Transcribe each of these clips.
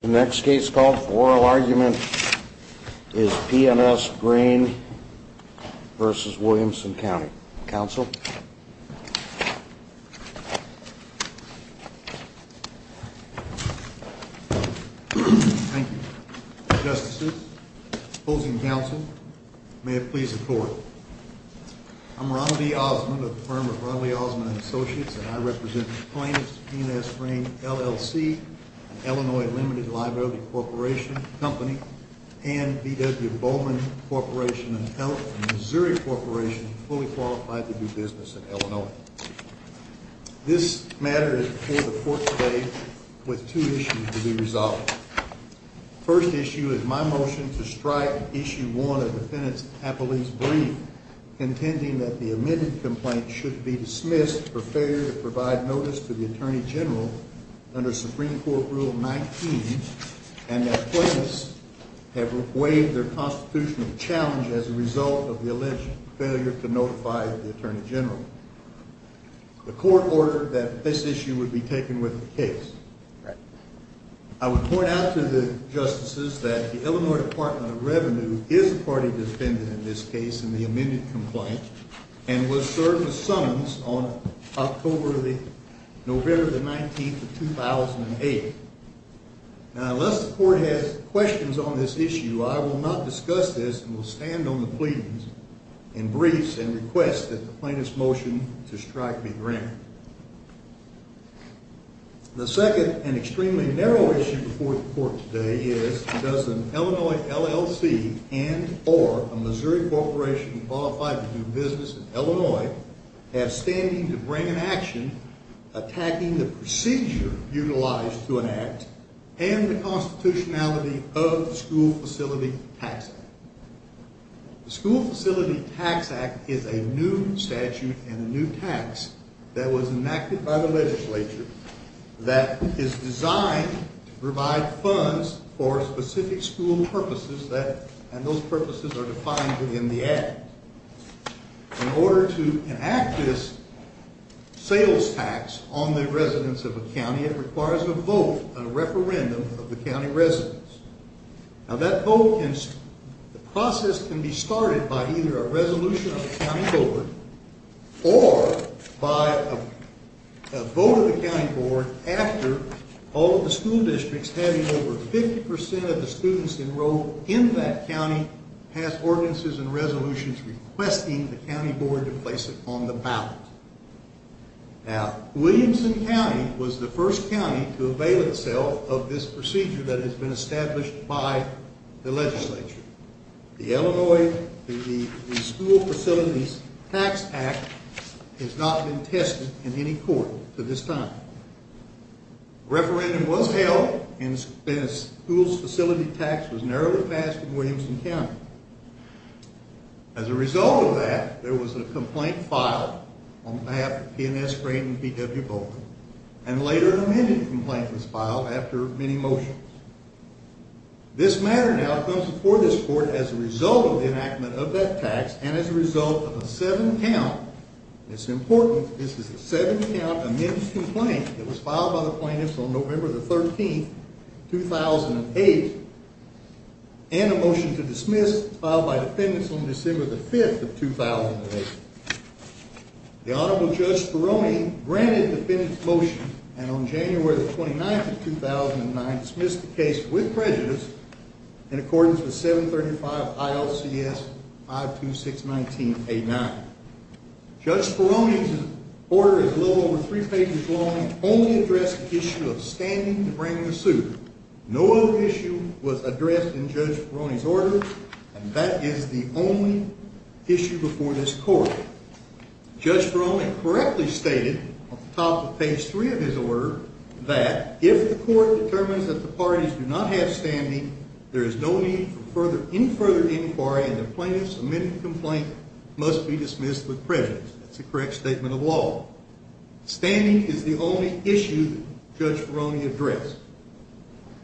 The next case called for oral argument is P&S Grain v. Williamson County. Counsel? Thank you. Justices, opposing counsel, may it please the court. I'm Ronald E. Osmond of the firm of Ronald E. Osmond and Associates, and I represent plaintiffs of P&S Grain, LLC, an Illinois limited library corporation company, and B.W. Bowman Corporation of Health, a Missouri corporation fully qualified to do business in Illinois. This matter is before the court today with two issues to be resolved. First issue is my motion to strike issue one of the defendant's appellate's brief, contending that the omitted complaint should be dismissed for failure to provide notice to the Attorney General under Supreme Court Rule 19, and that plaintiffs have waived their constitutional challenge as a result of the alleged failure to notify the Attorney General. The court ordered that this issue would be taken with the case. I would point out to the justices that the Illinois Department of Revenue is a party defendant in this case in the omitted complaint and was served with summons on October the, November the 19th of 2008. Now, unless the court has questions on this issue, I will not discuss this and will stand on the pleas and briefs and request that the plaintiff's motion to strike be granted. The second and extremely narrow issue before the court today is does an Illinois LLC and or a Illinois have standing to bring an action attacking the procedure utilized to enact and the constitutionality of the School Facility Tax Act. The School Facility Tax Act is a new statute and a new tax that was enacted by the legislature that is designed to provide funds for specific school purposes that and those purposes are defined within the act. In order to enact this sales tax on the residents of a county, it requires a vote, a referendum of the county residents. Now that vote, the process can be started by either a resolution of the county board or by a vote of the county board after all of the school districts having over 50 percent of the students enrolled in that county has ordinances and resolutions requesting the county board to place it on the ballot. Now, Williamson County was the first county to avail itself of this procedure that has been established by the legislature. The Illinois, the School Facilities Tax Act has not been tested in any court to this time. Referendum was held and school facility tax was narrowly passed in Williamson County. As a result of that, there was a complaint filed on behalf of PNS Graydon B.W. Bowman and later an amended complaint was filed after many motions. This matter now comes before this court as a result of the enactment of that tax and as a result of a seven count, it's important, this is a seven count amended complaint that was filed by the plaintiffs on November the 13th, 2008 and a motion to dismiss filed by defendants on December the 5th of 2008. The Honorable Judge Speroni granted the defendant's motion and on January the 29th of 2009 dismissed the case with prejudice in accordance with 735 ILCS 52619A9. Judge Speroni's order is over three pages long and only addressed the issue of standing to bring the suit. No other issue was addressed in Judge Speroni's order and that is the only issue before this court. Judge Speroni correctly stated on the top of page three of his order that if the court determines that the parties do not have standing, there is no need for any further inquiry and the plaintiff's amended complaint must be dismissed with prejudice. That's the correct statement of standing is the only issue that Judge Speroni addressed.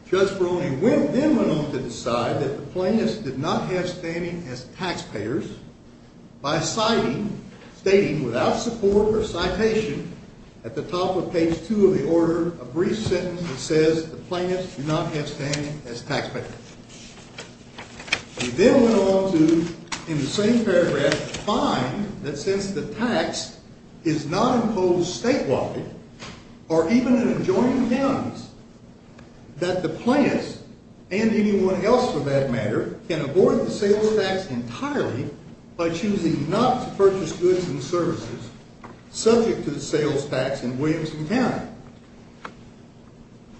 Judge Speroni then went on to decide that the plaintiffs did not have standing as taxpayers by citing, stating without support or citation at the top of page two of the order, a brief sentence that says the plaintiffs do not impose statewide or even in adjoining counties that the plaintiffs and anyone else for that matter can abort the sales tax entirely by choosing not to purchase goods and services subject to the sales tax in Williamson County.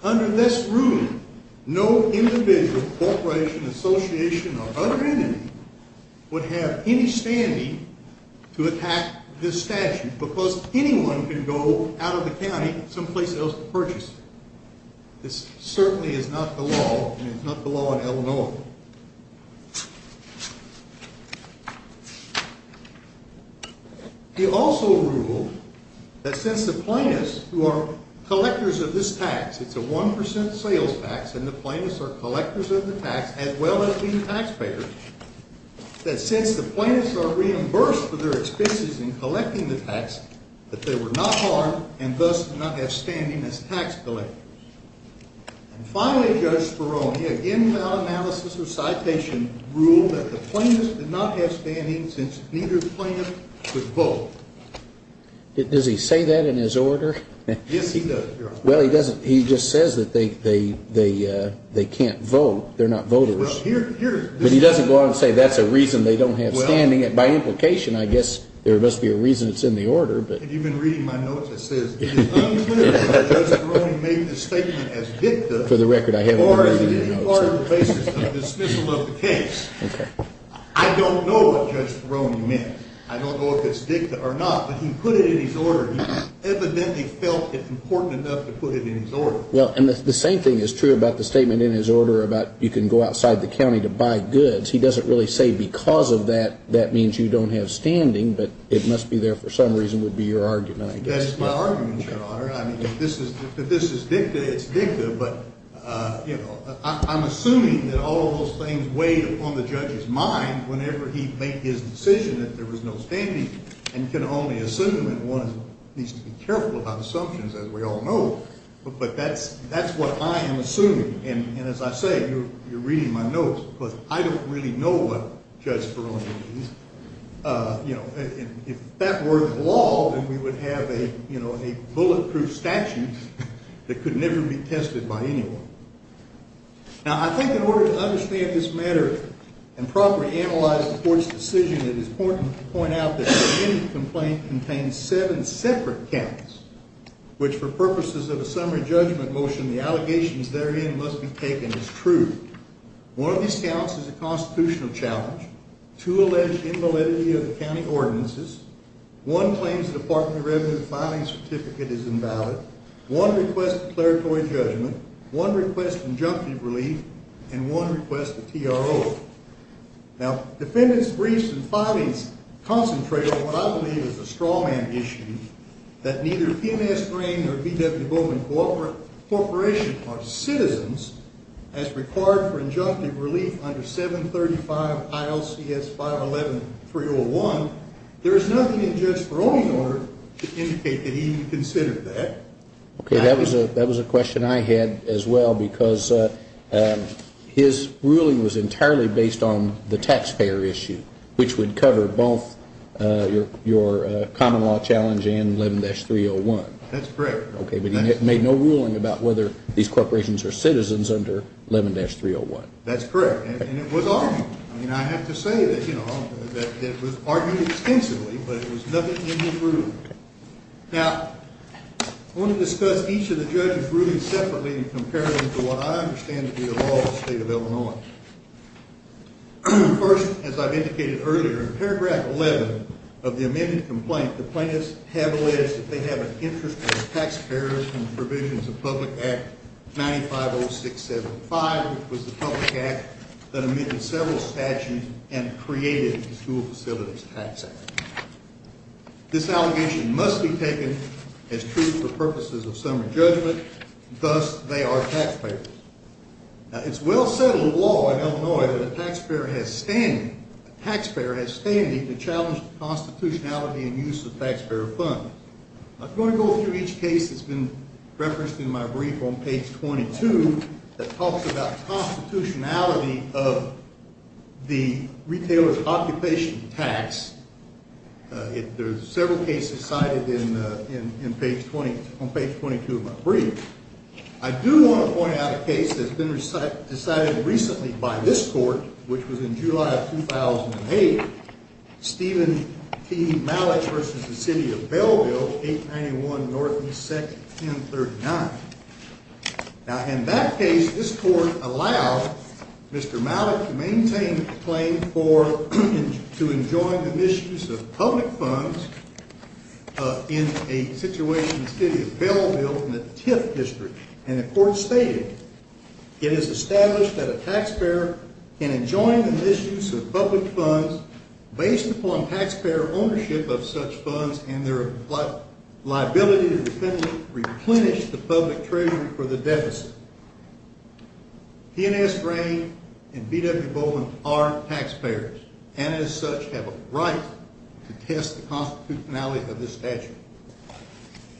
Under this ruling, no individual, corporation, association or other entity would have any standing to attack this statute because anyone can go out of the county someplace else to purchase. This certainly is not the law and it's not the law in Illinois. He also ruled that since the plaintiffs who are collectors of this tax and the plaintiffs are collectors of the tax as well as being taxpayers, that since the plaintiffs are reimbursed for their expenses in collecting the tax, that they were not harmed and thus did not have standing as tax collectors. And finally, Judge Speroni, again without analysis or citation, ruled that the plaintiffs did not have standing since neither plaintiff could vote. Does he say that in his order? Yes, he does, Your Honor. Well, he doesn't. He just says that they can't vote. They're not voters. But he doesn't go out and say that's a reason they don't have standing. By implication, I guess there must be a reason it's in the order, but... Have you been reading my notes? It says it is unclear whether Judge Speroni made this statement as dicta... For the record, I haven't read any of the notes. Or is it any part of the basis of dismissal of the case? I don't know what Judge Speroni meant. I don't know if it's dicta or not, but he put it in his order. He evidently felt it important enough to put it in his order. Well, and the same thing is true about the statement in his order about you can go outside the county to buy goods. He doesn't really say because of that, that means you don't have standing, but it must be there for some reason would be your argument, I guess. That's my argument, Your Honor. I mean, if this is dicta, it's dicta, but I'm assuming that all of those things weighed upon the judge's mind whenever he made his decision that there was no standing, and can only assume, and one needs to be careful about assumptions, as we all know, but that's what I am assuming, and as I say, you're reading my notes, because I don't really know what Judge Speroni means. If that were the law, then we would have a bulletproof statute that could never be tested by anyone. Now, I think in order to understand this matter and properly analyze the court's decision, it is important to point out that the end of the complaint contains seven separate counts, which for purposes of a summary judgment motion, the allegations therein must be taken as true. One of these counts is a constitutional challenge, two alleged invalidity of the county ordinances, one claims the Department of Revenue filing certificate is invalid, one request declaratory judgment, one request injunctive relief, and one request a TRO. Now, defendants briefs and filings concentrate on what I believe is a straw man issue, that neither PMS Grain or BW Bowman Corporation are citizens as required for injunctive relief under 735 ILCS 511-301. There is nothing in Judge Speroni's order to indicate that he considered that. Okay, that was a question I had as well, because his ruling was entirely based on the taxpayer issue, which would cover both your common law challenge and 11-301. That's correct. Okay, but he made no ruling about whether these corporations are citizens under 11-301. That's correct, and it was argued. I mean, I have to say that, you know, that it was argued extensively, but it was nothing in his ruling. Now, I want to discuss each of the judges' rulings separately and compare them to what I understand to be the law of the State of Illinois. First, as I've indicated earlier, in paragraph 11 of the amended complaint, the plaintiffs have alleged that they have an interest in the taxpayers and provisions of Public Act 950675, which was the public act that amended several statutes and created the School Facilities Tax Act. This allegation must be taken as truth for purposes of summary judgment. Thus, they are taxpayers. Now, it's well-settled law in Illinois that a taxpayer has standing to challenge the constitutionality and use of taxpayer funds. I'm going to go through each case that's been referenced in my brief on page 22 that talks about constitutionality of the retailers' occupation tax. There's several cases cited on page 22 of my brief. I do want to point out a case that's been decided recently by this court, which was in July of 2008, Stephen T. Malek v. The City of Belleville, 891 Northeast Section 1039. Now, in that case, this court allowed Mr. Malek to maintain a claim to enjoin the misuse of public funds in a situation in the City of Belleville in the Tiff District. And the court stated, it is established that a taxpayer can enjoin the misuse of public funds based upon taxpayer ownership of such funds and their liability to replenish the public treasury for the deficit. P&S Brain and B.W. Bowman are taxpayers and, as such, have a right to test the constitutionality of this statute.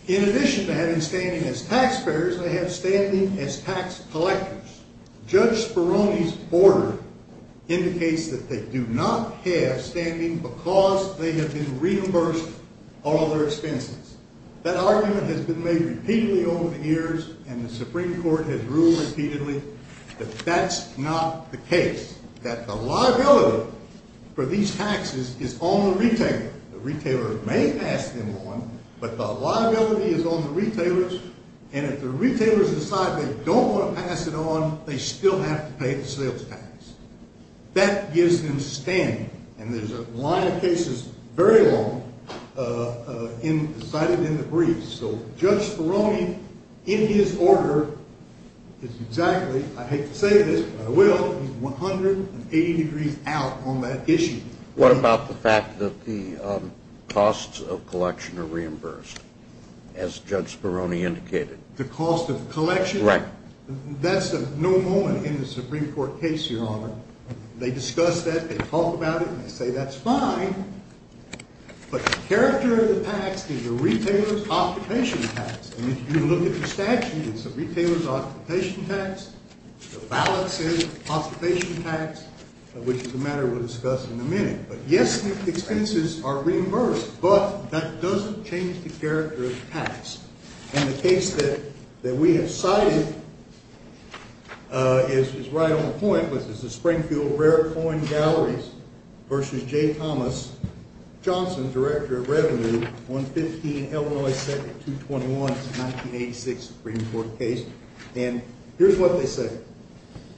In addition to having standing as taxpayers, they have standing as tax collectors. Judge Speroni's order indicates that they do not have standing because they have been reimbursed all their expenses. That argument has been made repeatedly over the years, and the Supreme Court has ruled repeatedly that that's not the case, that the liability for these taxes is on the retailer. The retailer may pass them on, but the liability is on the retailers, and if the retailers decide they don't want to pass it on, they still have to pay the sales tax. That gives them standing, and there's a line of cases very long cited in the briefs. So Judge Speroni, in his order, is exactly, I hate to say this, but I will, he's 180 degrees out on that issue. What about the fact that the costs of collection are reimbursed, as Judge Speroni indicated? The cost of collection? Right. That's a no moment in the Supreme Court case, Your Honor. They discuss that, they talk about it, and they say that's fine, but the character of the tax is the retailer's occupation tax, and if you look at the statute, it's the retailer's occupation tax, the ballot says occupation tax, which is a matter we'll discuss in a minute, but yes, the expenses are reimbursed, but that doesn't change the character of the tax, and the case that we have cited is right on the point, which is the Springfield Rare Coin Galleries versus J. Thomas Johnson, Director of Revenue, 115 Illinois 221, 1986 Supreme Court case, and here's what they say.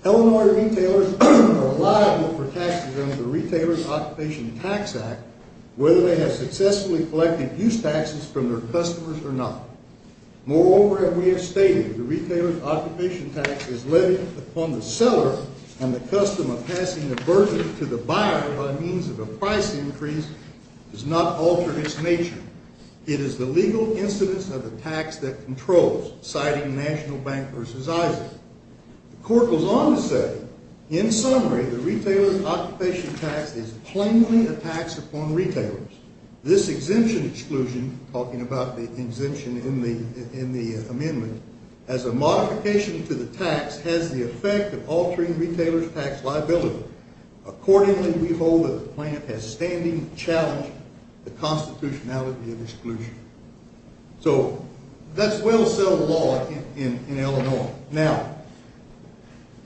Illinois retailers are liable for taxes under the Retailer's Occupation Tax Act, whether they have successfully collected use taxes from their customers or not. Moreover, as we have stated, the retailer's occupation tax is levied upon the seller, and the custom of passing the burden to the buyer by means of a price increase does not alter its nature. It is the legal incidence of the tax that controls, citing National Bank versus Isaac, the court goes on to say, in summary, the retailer's occupation tax is plainly a tax upon retailers. This exemption exclusion, talking about the exemption in the amendment, as a modification to the tax has the effect of altering retailers' tax liability. Accordingly, we hold that the plant has standing challenged the constitutionality of exclusion. So that's well-said law in Illinois. Now,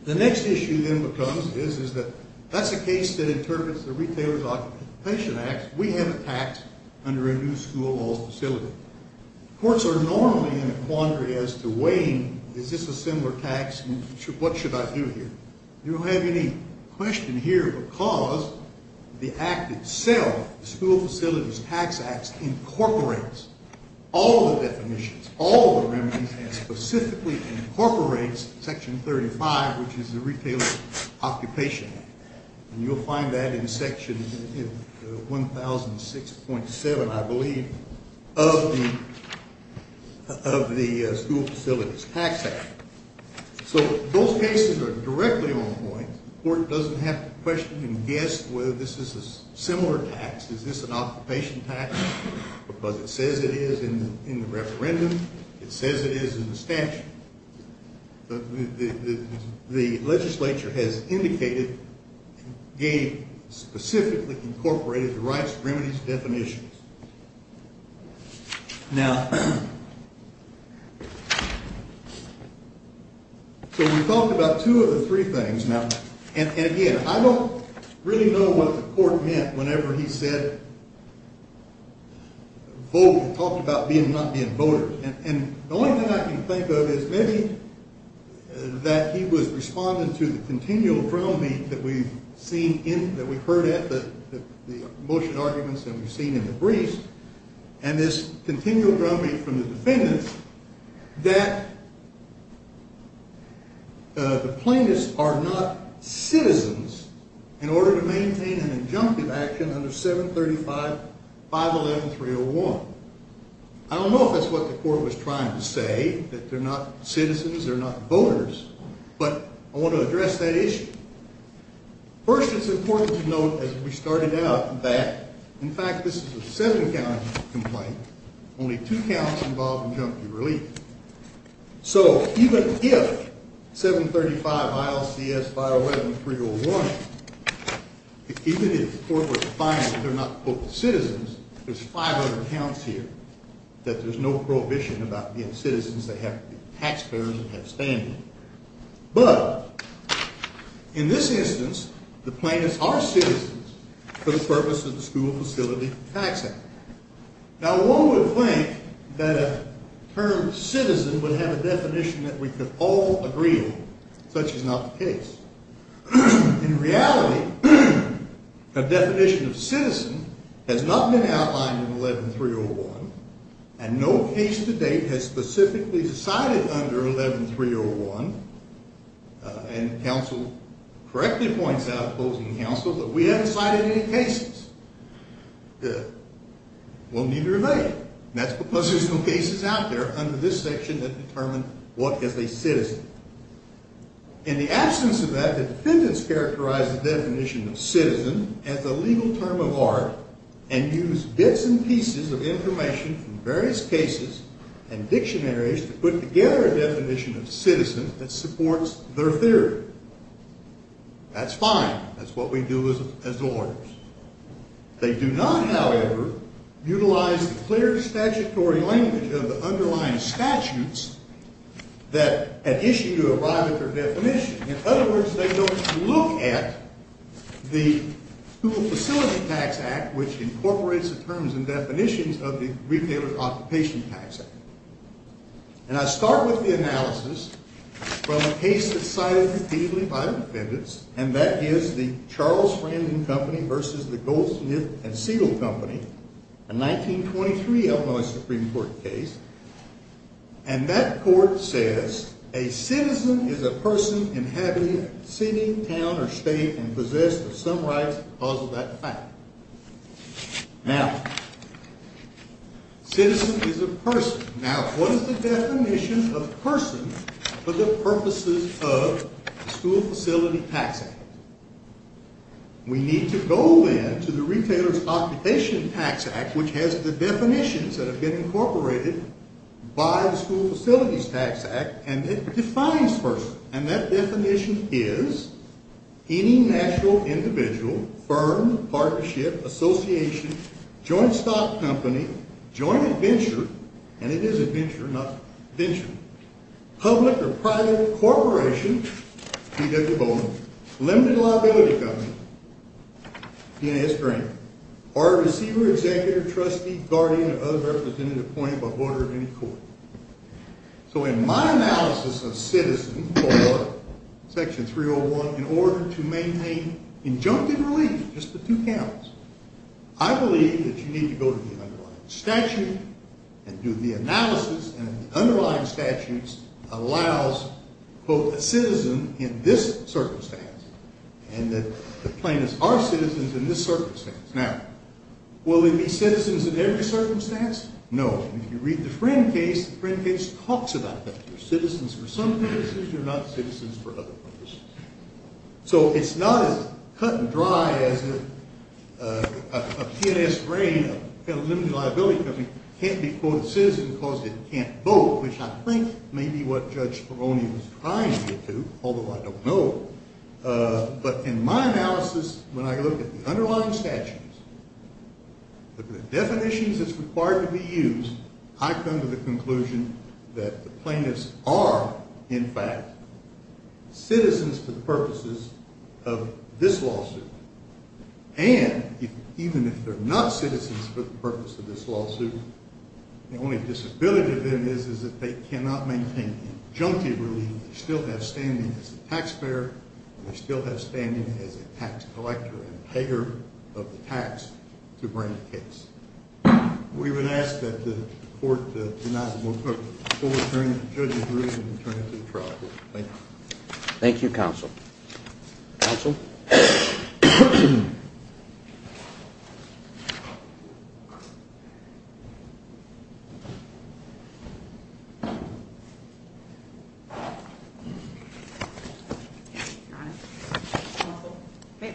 the next issue then becomes is that that's a case that interprets the Retailer's Occupation Act. We have a tax under a new school or facility. Courts are normally in a quandary as to weighing, is this a similar tax? What should I do here? You don't have any question here because the act itself, the School Facilities Tax Act, incorporates all the definitions, all the remedies, and specifically incorporates Section 35, which is the Retailer's Occupation Act. You'll find that in Section 1006.7, I believe, of the School Facilities Tax Act. So those cases are directly on point. The court doesn't have to question and guess whether this is a similar tax. Is this an referendum? It says it is in the statute. The legislature has indicated, gave, specifically incorporated the rights, remedies, definitions. Now, so we talked about two of the three things. Now, and again, I don't really know what the court meant whenever he said, talked about being, not being a voter. And the only thing I can think of is maybe that he was responding to the continual ground beat that we've seen in, that we've heard at the motion arguments that we've seen in the briefs, and this continual ground beat from the action under 735-511-301. I don't know if that's what the court was trying to say, that they're not citizens, they're not voters, but I want to address that issue. First, it's important to note, as we started out, that, in fact, this is a seven-count complaint, only two counts involved relief. So even if 735-ILCS-511-301, even if the court were to find that they're not citizens, there's 500 counts here, that there's no prohibition about being citizens, they have to be taxpayers and have standing. But in this instance, the plaintiffs are citizens for the purpose of school facility taxing. Now one would think that a term citizen would have a definition that we could all agree on. Such is not the case. In reality, the definition of citizen has not been outlined in 11-301, and no case to date has specifically cited under 11-301, and counsel correctly points out, opposing counsel, that we haven't cited any cases. Well, neither have they, and that's because there's no cases out there under this section that determine what is a citizen. In the absence of that, the defendants characterize the definition of citizen as a legal term of art and use bits and pieces of information from various cases and dictionaries to put together a definition of citizen that supports their theory. That's fine. That's what we do as lawyers. They do not, however, utilize the clear statutory language of the underlying statutes that at issue to arrive at their definition. In other words, they don't look at the School Facility Tax Act, which incorporates the terms and definitions of the Retailer's Occupation Tax Act. And I start with the analysis from a case that's cited repeatedly by the defendants, and that is the Charles Framing Company versus the Goldsmith and Siegel Company, a 1923 Illinois Supreme Court case, and that court says a citizen is a person inhabiting a city, town, or state and possessed of some rights because of that fact. Now, citizen is a person. Now, what is the definition of person for the purposes of the School Facility Tax Act? We need to go then to the Retailer's Occupation Tax Act, which has the definitions that have been incorporated by the School Facilities Tax Act, and it defines person, and that definition is any national individual, firm, partnership, association, joint stock company, joint adventure, and it is adventure, not venture, public or private corporation, P.W. Bowman, limited liability company, P.A.S. Green, or a receiver, executor, trustee, guardian, or other representative appointed by any court. So in my analysis of citizen for Section 301, in order to maintain injunctive relief, just the two counts, I believe that you need to go to the underlying statute and do the analysis, and the underlying statutes allows, quote, a citizen in this circumstance, and that the plaintiffs are citizens in this circumstance. Now, will they be citizens in every circumstance? No. If you read the Friend case, the Friend case talks about that. They're citizens for some purposes, they're not citizens for other purposes. So it's not as cut and dry as a P.A.S. Green, a limited liability company, can't be, quote, a citizen because it can't vote, which I think may be what Judge Peroni was trying to get to, although I don't know. But in my analysis, when I look at the underlying statutes, look at the definitions that's required to be used, I come to the conclusion that the plaintiffs are, in fact, citizens for the purposes of this lawsuit. And even if they're not citizens for the purpose of this lawsuit, the only disability to them is that they cannot maintain injunctive relief. They still have standing as a tax collector and payer of the tax to bring the case. We would ask that the court do not overturn Judge's ruling and turn it to the trial court. Thank you. Thank you, Counsel. Counsel?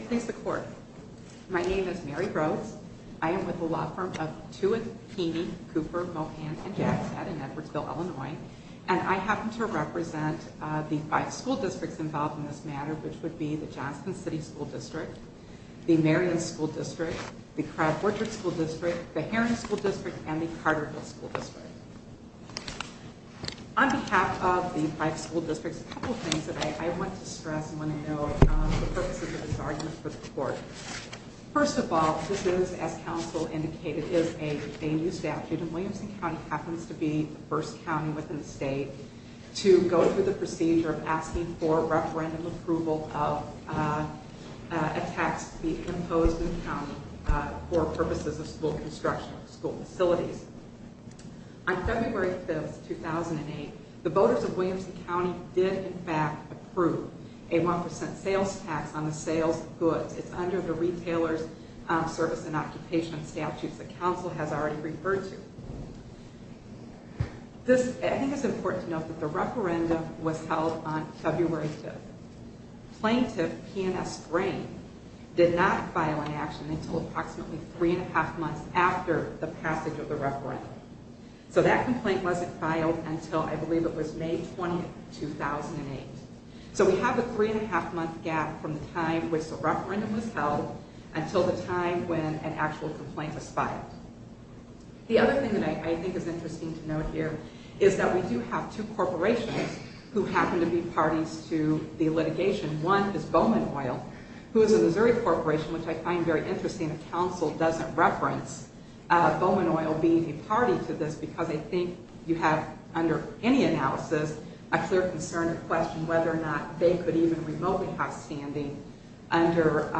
Please, the court. My name is Mary Rose. I am with the law firm of Tewitt, Keeney, Cooper, Mohan & Jackson in Edwardsville, Illinois. And I happen to represent the five school districts involved in this matter, which would be the Johnson City School District, the Marion School District, the Crab Orchard School District, the Heron School District, and the Carterville School District. On behalf of the five school districts, a couple of things I want to stress and want to note for the purposes of this argument for the court. First of all, this is, as counsel indicated, is a new statute. And Williamson County happens to be the first county within the state to go through the procedure of asking for referendum approval of a tax to be imposed in the county for purposes of school construction, school facilities. On February 5th, 2008, the voters of Williamson County did, in fact, approve a 1% sales tax on the sales of goods. It's under the Retailer's Service and Occupation Statutes that counsel has already referred to. This, I think it's important to note that the referendum was held on February 5th. Plaintiff P&S Grain did not file an action until approximately three and a half months after the passage of the referendum. So, that complaint wasn't filed until, I believe, it was May 20th, 2008. So, we have a three and a half month gap from the time which the referendum was held until the time when an actual complaint was filed. The other thing that I think is interesting to note here is that we do have two corporations who happen to be parties to the litigation. One is Bowman Oil, who is a Missouri corporation, which I find very interesting that counsel doesn't reference Bowman Oil being a party to this because I think you have, under any analysis, a clear concern or question whether or not they could even remotely have standing under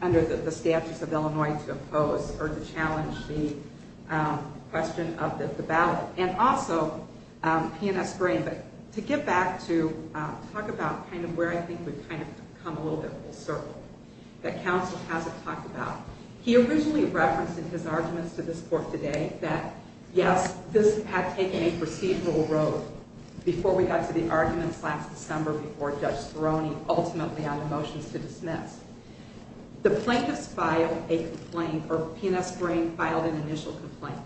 the statutes of Illinois to oppose or to challenge the question of the ballot. And also, P&S Grain, but to get back to talk about kind of where I think we've kind of come a little circle that counsel hasn't talked about. He originally referenced in his arguments to this court today that, yes, this had taken a procedural road before we got to the arguments last December before Judge Speroni ultimately had the motions to dismiss. The plaintiffs filed a complaint, or P&S Grain filed an initial complaint.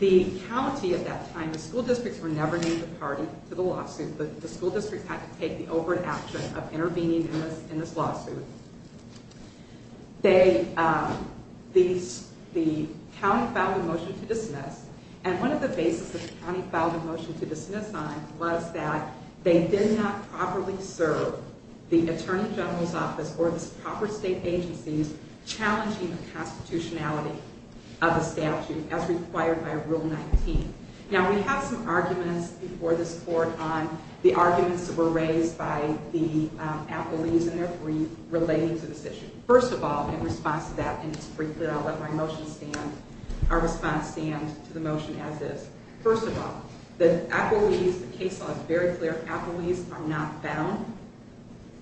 The county at that time, the school districts were never named a party to the lawsuit. The school districts had to take the overt action of opposing this lawsuit. The county filed a motion to dismiss, and one of the bases the county filed a motion to dismiss on was that they did not properly serve the Attorney General's Office or the proper state agencies challenging the constitutionality of the statute as required by Rule 19. Now, we have some arguments before this court on the arguments that were raised by the brief relating to this issue. First of all, in response to that, and just briefly, I'll let my motion stand, our response stand to the motion as is. First of all, the appellees, the case law is very clear. Appellees are not bound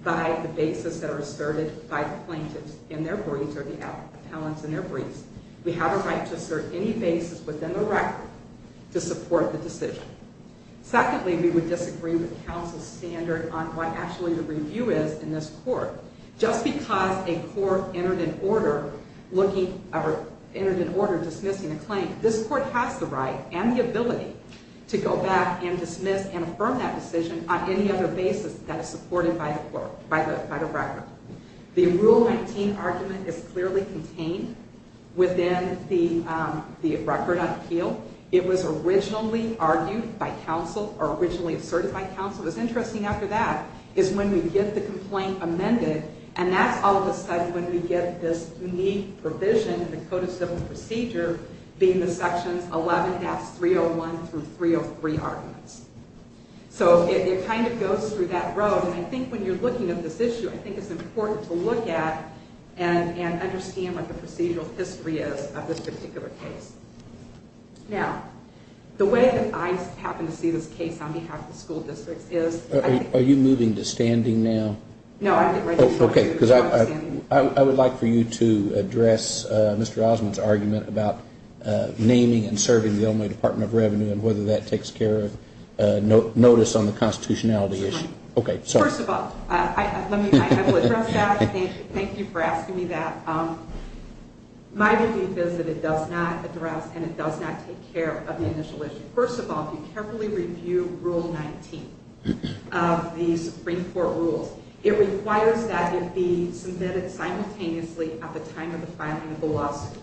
by the basis that are asserted by the plaintiffs in their briefs or the appellants in their briefs. We have a right to assert any basis within the record to support the decision. Secondly, we would disagree with counsel's standard on what actually the review is in this court. Just because a court entered an order looking or entered an order dismissing a claim, this court has the right and the ability to go back and dismiss and affirm that decision on any other basis that is supported by the court, by the record. The Rule 19 argument is clearly contained within the record on appeal. It was originally argued by counsel or originally asserted by counsel. What's interesting after that is when we get the complaint amended, and that's all of a sudden when we get this unique provision in the Code of Civil Procedure being the sections 11-301 through 303 arguments. So, it kind of goes through that road, and I think when you're looking at this issue, I think it's important to look at and understand what the procedural history is of this particular case. Now, the way that I happen to see this case on behalf of the school districts is... Are you moving to standing now? No, I'm ready to move to standing. I would like for you to address Mr. Osmond's argument about naming and serving the Illinois Department of Revenue and whether that takes care of notice on the constitutionality issue. First of all, I will address that. Thank you for asking me that. My belief is that it does not address and it does not take care of the initial issue. First of all, if you carefully review Rule 19 of the Supreme Court rules, it requires that it be submitted simultaneously at the time of the filing of the lawsuit.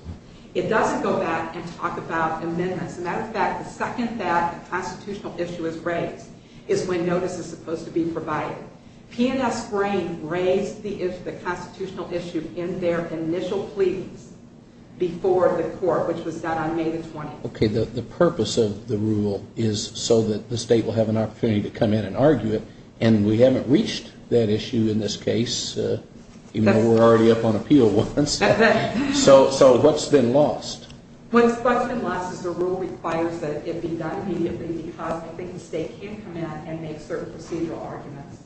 It doesn't go back and talk about amendments. As a matter of fact, the second that a constitutional issue is raised is when notice is supposed to be provided. P&S Brain raised the issue, the constitutional issue, in their initial pleas before the court, which was done on May the 20th. Okay, the purpose of the rule is so that the state will have an opportunity to come in and argue it, and we haven't reached that issue in this case, even though we're already up on appeal once. So what's been lost? What's been lost is the rule requires that it be done immediately because I think the state can come in and make certain procedural arguments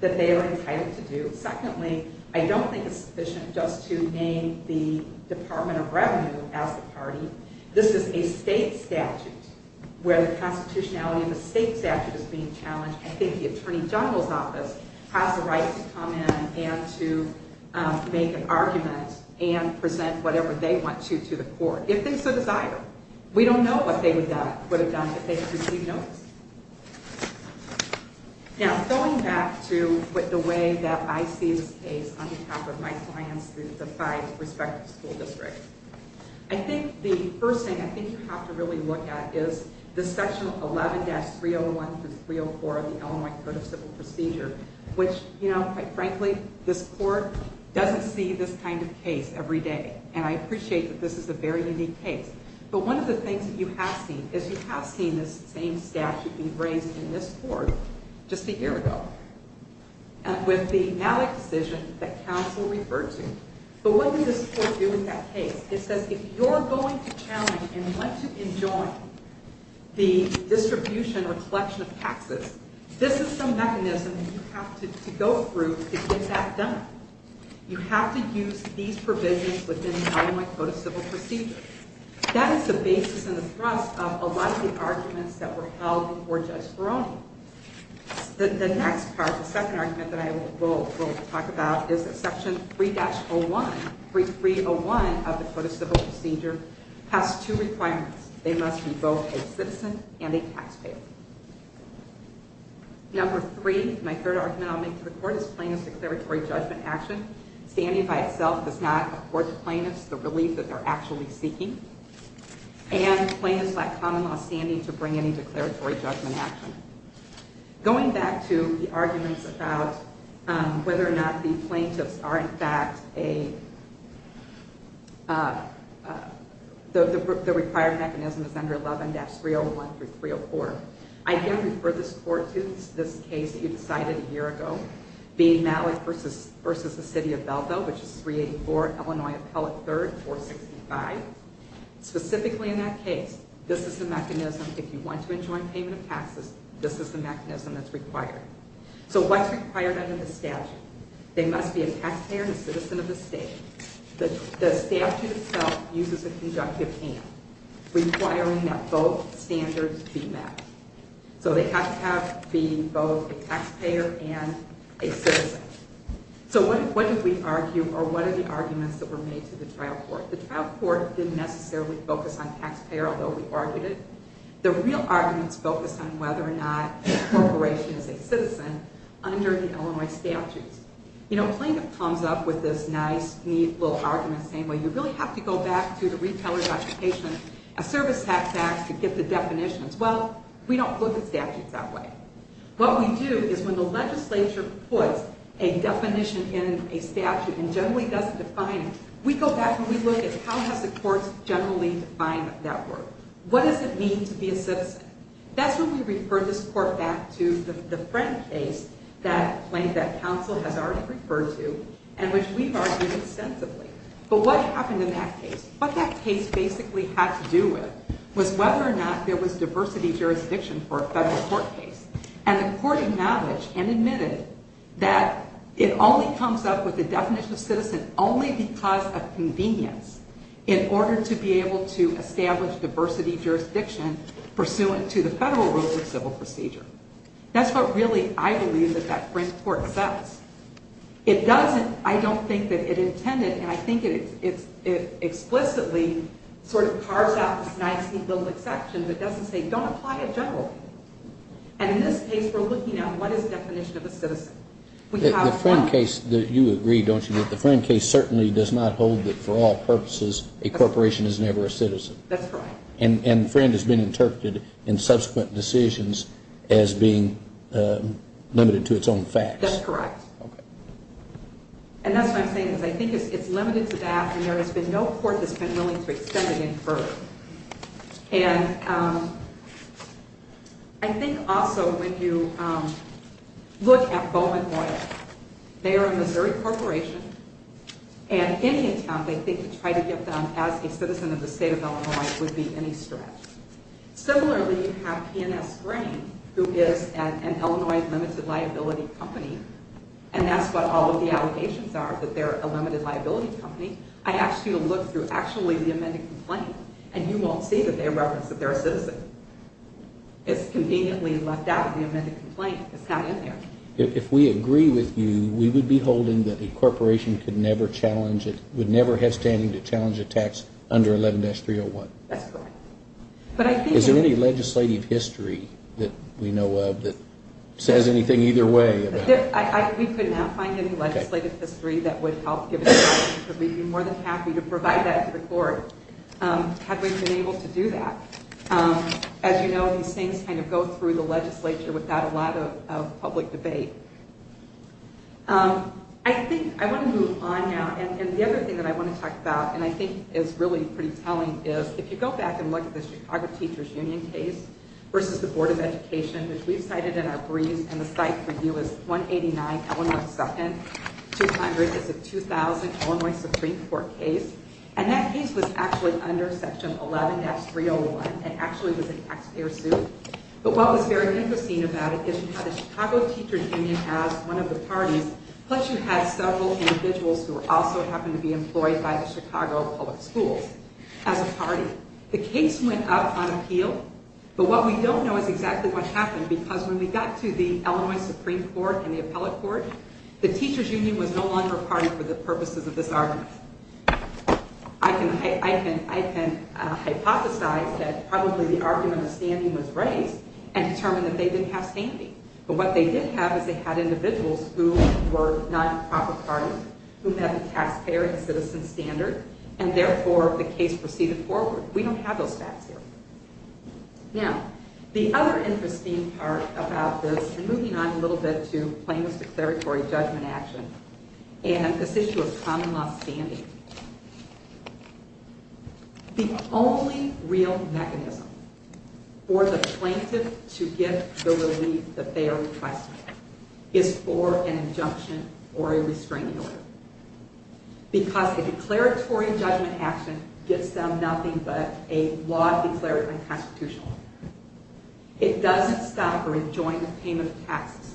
that they are entitled to do. Secondly, I don't think it's sufficient just to name the Department of Revenue as the party. This is a state statute where the constitutionality of the state statute is being challenged. I think the Attorney General's office has the right to come in and to make an argument and present whatever they want to to the court, if they so desire. We don't know what they would have done if they had received notice. Now, going back to the way that I see this case on I think the first thing I think you have to really look at is the section 11-301-304 of the Illinois Code of Civil Procedure, which, you know, quite frankly, this court doesn't see this kind of case every day, and I appreciate that this is a very unique case, but one of the things that you have seen is you have seen this same statute be raised in this court just a year ago, and with the Malik decision that counsel referred to. But what did this court do with that case? It says if you're going to challenge and want to enjoin the distribution or collection of taxes, this is some mechanism that you have to go through to get that done. You have to use these provisions within the Illinois Code of Civil Procedure. That is the basis and the thrust of a lot of the arguments that were held before Judge Ferroni. The next part, the second argument that I will talk about is that section 3-01-3301 of the Code of Civil Procedure has two requirements. They must be both a citizen and a taxpayer. Number three, my third argument I'll make to the court, is plaintiff's declaratory judgment action. Standing by itself does not afford the plaintiffs the relief that they're actually seeking, and plaintiffs lack common law standing to bring any declaratory judgment action. Going back to the arguments about whether or not the plaintiffs are in fact a the required mechanism is under 11-301-304. I again refer this court to this case you decided a year ago, being Malik versus the city of Beldo, which is 384 Illinois Appellate 3rd, 465. Specifically in that case, this is the mechanism if you want to enjoin payment of taxes, this is the mechanism that's required. So what's required under the statute? They must be a taxpayer and a citizen of the state. The statute itself uses a conductive and, requiring that both standards be met. So they have to be both a taxpayer and a citizen. So what did we argue, or what are the arguments that were made to the trial court? The trial court didn't necessarily focus on taxpayer, although we argued it. The real arguments focused on whether or not the corporation is a citizen under the Illinois statutes. You know, plaintiff comes up with this nice neat little argument saying, well you really have to go back to the retailer's occupation of service tax acts to get the definitions. Well, we don't look at statutes that way. What we do is when the legislature puts a definition in a statute and generally doesn't define it, we go back and we look at how has the courts generally defined that work? What does it mean to be a citizen? That's when we referred this court back to the friend case that plaintiff, that counsel has already referred to, and which we've argued extensively. But what happened in that case? What that case basically had to do with was whether or not there was diversity jurisdiction for a federal court case. And the court acknowledged and admitted that it only comes up with the definition of citizen only because of convenience in order to be able to establish diversity jurisdiction pursuant to the federal rules of civil procedure. That's what really, I believe, that that friend court says. It doesn't, I don't think that it intended, and I think it explicitly sort of carves out this nicely built exception, but doesn't say don't apply it generally. And in this case, we're looking at what is the definition of a citizen. The friend case, you agree, don't you, that the friend case certainly does not hold that for all purposes a corporation is never a citizen. That's right. And friend has been interpreted in subsequent decisions as being limited to its own facts. That's correct. Okay. And that's what I'm saying, is I think it's limited to that, and there has been no court that's been willing to extend it any further. And I think also when you look at Bowman Loyal, they are a Missouri corporation, and any attempt, I think, to try to get them as a citizen of the state of Illinois would be any stretch. Similarly, you have P&S Grain, who is an Illinois limited liability company, and that's what all of the allegations are, that they're a limited liability company. I asked you to look through actually the amended complaint, and you won't see that they reference that they're a citizen. It's conveniently left out of the amended complaint. It's not in there. If we agree with you, we would be holding that the corporation could never challenge it, would never have standing to challenge a tax under 11-301. That's correct. But I think... Is there any legislative history that we know of that says anything either way about it? We could not find any legislative history that would help give us an answer, but we'd be more than happy to provide that to the court, had we been able to do that. As you know, these things kind of go through the legislature without a lot of public debate. I want to move on now, and the other thing that I want to talk about, and I think is really pretty telling, is if you go back and look at the Chicago Teachers Union case versus the Board of Education, which we've cited in our briefs, and the site for you is 189 Illinois 2nd 200. It's a 2000 Illinois Supreme Court case, and that case was actually under section 11-301, and actually was an taxpayer suit. But what was very interesting about it is you had a Chicago Teachers Union as one of the parties, plus you had several individuals who also happened to be employed by the Chicago Public Schools as a party. The case went up on appeal, but what we don't know is exactly what happened, because when we got to the Illinois Supreme Court and the Appellate Court, the Teachers Union was no longer a party for the purposes of this argument. I can hypothesize that probably the argument of standing was raised and determined that they didn't have standing. But what they did have is they had individuals who were not in the proper party, who met the taxpayer and citizen standard, and therefore the case proceeded forward. We don't have those facts here. Now, the other interesting part about this, and moving on a little bit to Plaintiff's Declaratory Judgment action, and this issue of common law standing, the only real mechanism for the plaintiff to get the relief that they are requesting is for an injunction or a restraining order, because a declaratory judgment action gets them nothing but a law declared unconstitutional. It doesn't stop or enjoin the payment of taxes,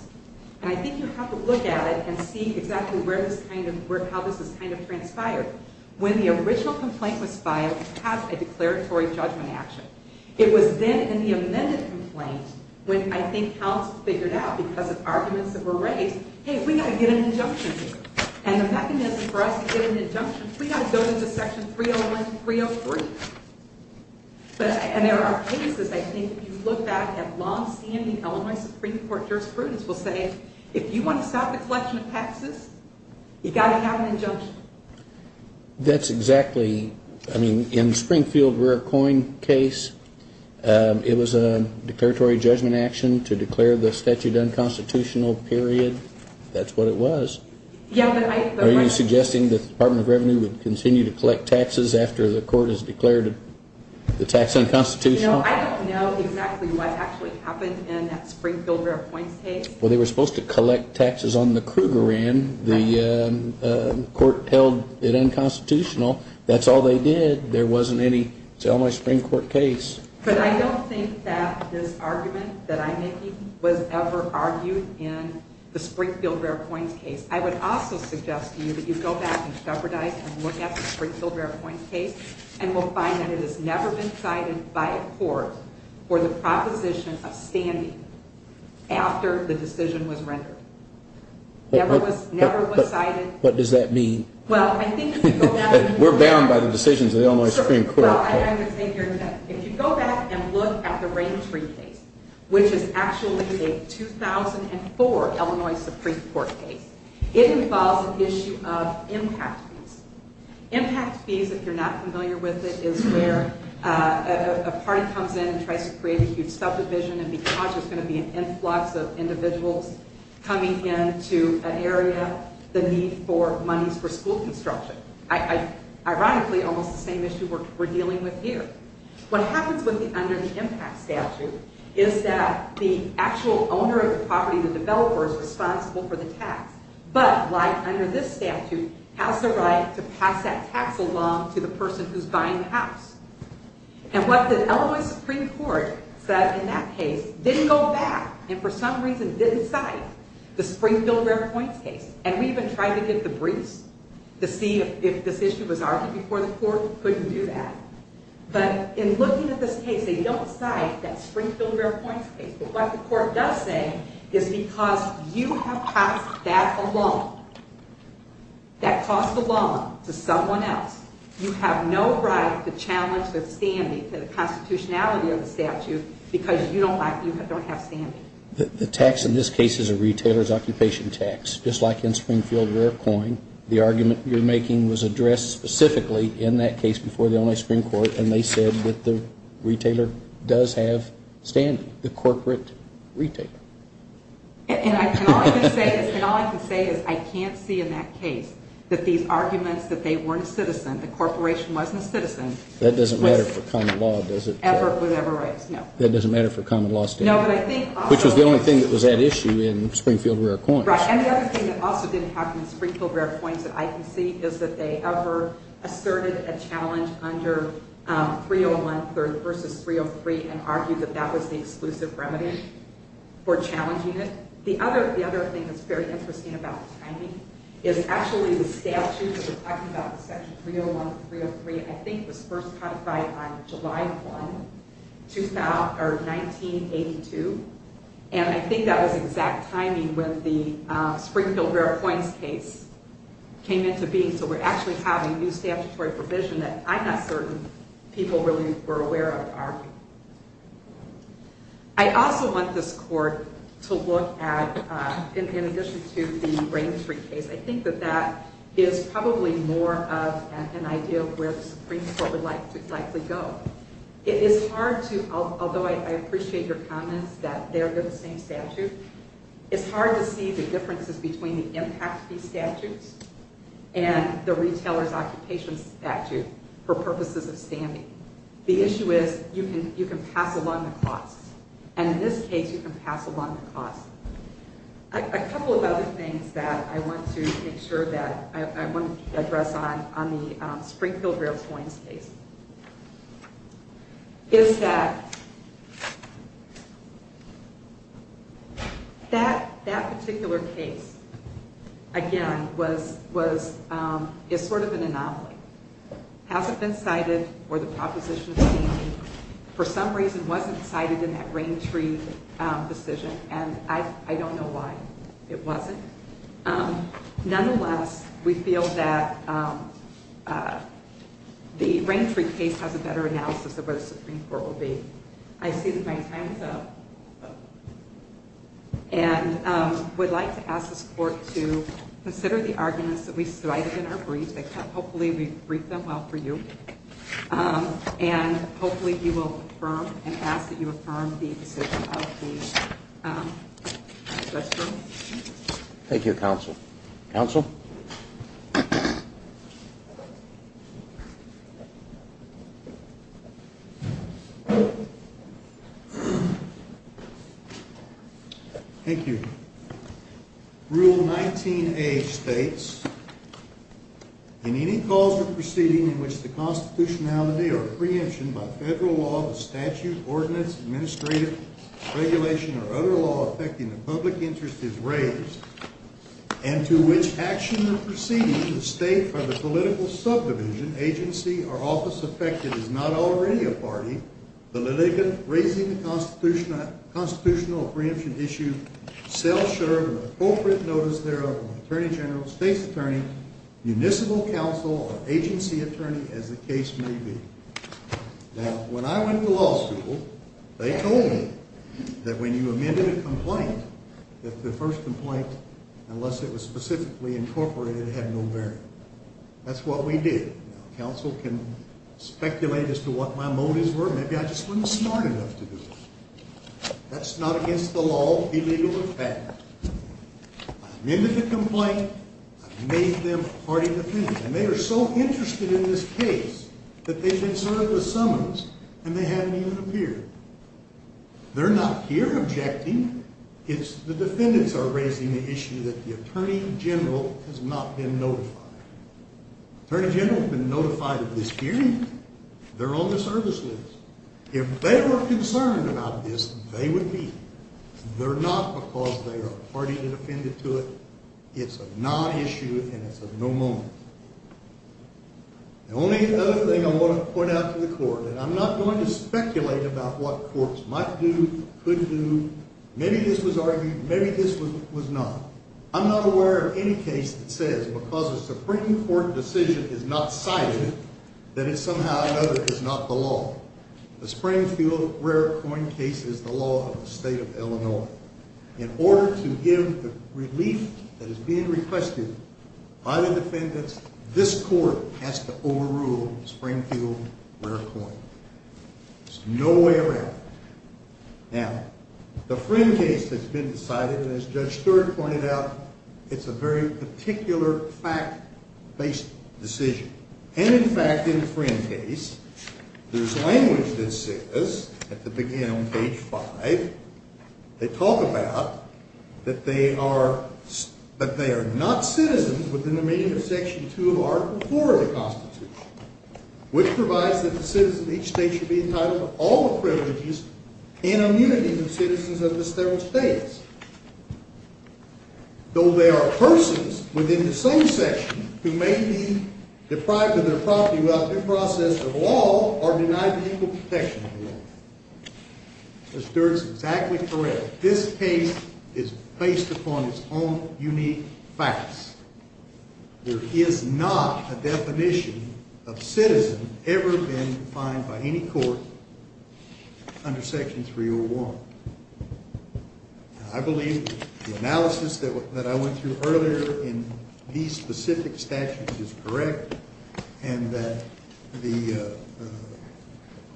and I think you have to look at it and see exactly how this has kind of transpired. When the original complaint was filed, it has a declaratory judgment action. It was then in the arguments that were raised, hey, we got to get an injunction. And the mechanism for us to get an injunction, we got to go to the section 301 and 303. And there are cases, I think, if you look back at long-standing Illinois Supreme Court jurisprudence, will say, if you want to stop the collection of taxes, you got to have an injunction. That's exactly, I mean, in Springfield Rare Coin case, it was a declaratory judgment action to declare the statute unconstitutional, period. That's what it was. Are you suggesting the Department of Revenue would continue to collect taxes after the court has declared the tax unconstitutional? I don't know exactly what actually happened in that Springfield Rare Coins case. Well, they were supposed to collect taxes on the Kruger end. The court held it unconstitutional. That's all they did. There wasn't any. It's an Illinois Supreme Court case. But I don't think that this argument that I'm making was ever argued in the Springfield Rare Coins case. I would also suggest to you that you go back and jeopardize and look at the Springfield Rare Coins case and will find that it has never been cited by a court for the proposition of standing after the decision was rendered. Never was cited. What does that mean? We're bound by the decisions of the Illinois Supreme Court. If you go back and look at the Rain Tree case, which is actually a 2004 Illinois Supreme Court case, it involves an issue of impact fees. Impact fees, if you're not familiar with it, is where a party comes in and tries to create a huge subdivision and because there's going to be an area, the need for monies for school construction. Ironically, almost the same issue we're dealing with here. What happens when you're under the impact statute is that the actual owner of the property, the developer, is responsible for the tax. But, like under this statute, has the right to pass that tax along to the person who's buying the house. And what the Illinois Supreme Court said in that case didn't go back and for some reason didn't cite the Springfield Rare Coins case. And we even tried to get the briefs to see if this issue was argued before the court. Couldn't do that. But in looking at this case, they don't cite that Springfield Rare Coins case. But what the court does say is because you have passed that along, that cost alone to someone else, you have no right to challenge the standing to the constitutionality of the statute because you don't have standing. The tax in this case is a retailer's occupation tax, just like in Springfield Rare Coin. The argument you're making was addressed specifically in that case before the Illinois Supreme Court and they said that the retailer does have standing, the corporate retailer. And all I can say is I can't see in that case that these arguments that they weren't a citizen, the corporation wasn't a citizen. That doesn't matter for common law, does it? Ever, whatever rights, no. That doesn't matter for common law standing? No, but I think... Which was the only thing that was at issue in Springfield Rare Coins. Right, and the other thing that also didn't happen in Springfield Rare Coins that I can see is that they ever asserted a challenge under 301 versus 303 and argued that that was the exclusive remedy for challenging it. The other thing that's very interesting about the timing is actually the statute that we're talking about in section 301, 303, I think was first codified on July 1, 1982, and I think that was exact timing when the Springfield Rare Coins case came into being. So we're actually having new statutory provision that I'm not certain people really were aware of. I also want this court to look at, in addition to the 303 case, I think that that is probably more of an idea of where the Supreme Court would likely go. It is hard to, although I appreciate your comments that they're the same statute, it's hard to see the differences between the impact of these statutes and the retailer's occupation statute for purposes of standing. The issue is you can pass along the costs, and in this case you can pass along the cost. A couple of other things that I want to make sure that I want to address on the Springfield Rare Coins case is that that particular case, again, is sort of an anomaly. Hasn't been cited for the proposition of standing, for some reason wasn't cited in that Rain Tree decision, and I don't know why it wasn't. Nonetheless, we feel that the Rain Tree case has a better analysis of where the Supreme Court will be. I see that my time is up and would like to ask this court to consider the arguments that we cited in our brief. Hopefully we briefed them well for you, and hopefully you will affirm and ask that you affirm the decision of the judge. Thank you, counsel. Counsel? Thank you. Rule 19A states, in any cause or proceeding in which the constitutionality or preemption by federal law, the statute, ordinance, administrative regulation, or other law affecting the public is raised, and to which action or proceeding the state or the political subdivision, agency, or office affected is not already a party, the litigant raising the constitutional or preemption issue shall serve an appropriate notice thereof from the Attorney General, State's Attorney, Municipal Counsel, or Agency Attorney, as the case may be. Now, when I went to law school, they told me that when you amended a complaint, that the first complaint, unless it was specifically incorporated, had no bearing. That's what we did. Now, counsel can speculate as to what my motives were. Maybe I just wasn't smart enough to do it. That's not against the law, illegal, or fact. I amended the complaint. I made them party defendants, and they are so interested in this case that they've been served with summons, and they haven't even appeared. They're not here objecting. It's the defendants are raising the issue that the Attorney General has not been notified. Attorney General has been notified of this hearing. They're on the service list. If they were concerned about this, they would be. They're not because they are a party that has been notified. The only other thing I want to point out to the court, and I'm not going to speculate about what courts might do, could do. Maybe this was argued. Maybe this was not. I'm not aware of any case that says because a Supreme Court decision is not cited, that it's somehow another. It's not the law. The Springfield Rare Coin case is the law of the state of Illinois. In order to give the relief that is being requested by the defendants, this court has to overrule Springfield Rare Coin. There's no way around it. Now, the Friend case has been decided, and as Judge Stewart pointed out, it's a very particular fact-based decision. And in fact, in the Friend case, there's language that says, at the beginning on page five, they talk about that they are not citizens within the meaning of Section 2 of Article 4 of the Constitution, which provides that the citizen of each state should be entitled to all the privileges and immunities of citizens of the federal states, though they are persons within the same section who may be deprived of their property without due process of law or denied the equal protection of the law. Judge Stewart's exactly correct. This case is based upon its own unique facts. There is not a definition of citizen ever been defined by any court under Section 301. I believe the analysis that I went through earlier in these specific statutes is correct, and that the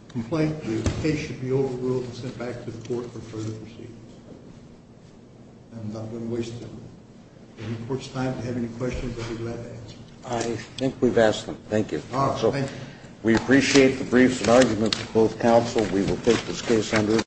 complaint, the case should be overruled and sent back to the court for further proceedings. I'm not going to waste any more time. If the report's time to have any questions, I'd be glad to answer them. I think we've asked them. Thank you. All right. Thank you. We appreciate the briefs and arguments of both counsel. We will take this case under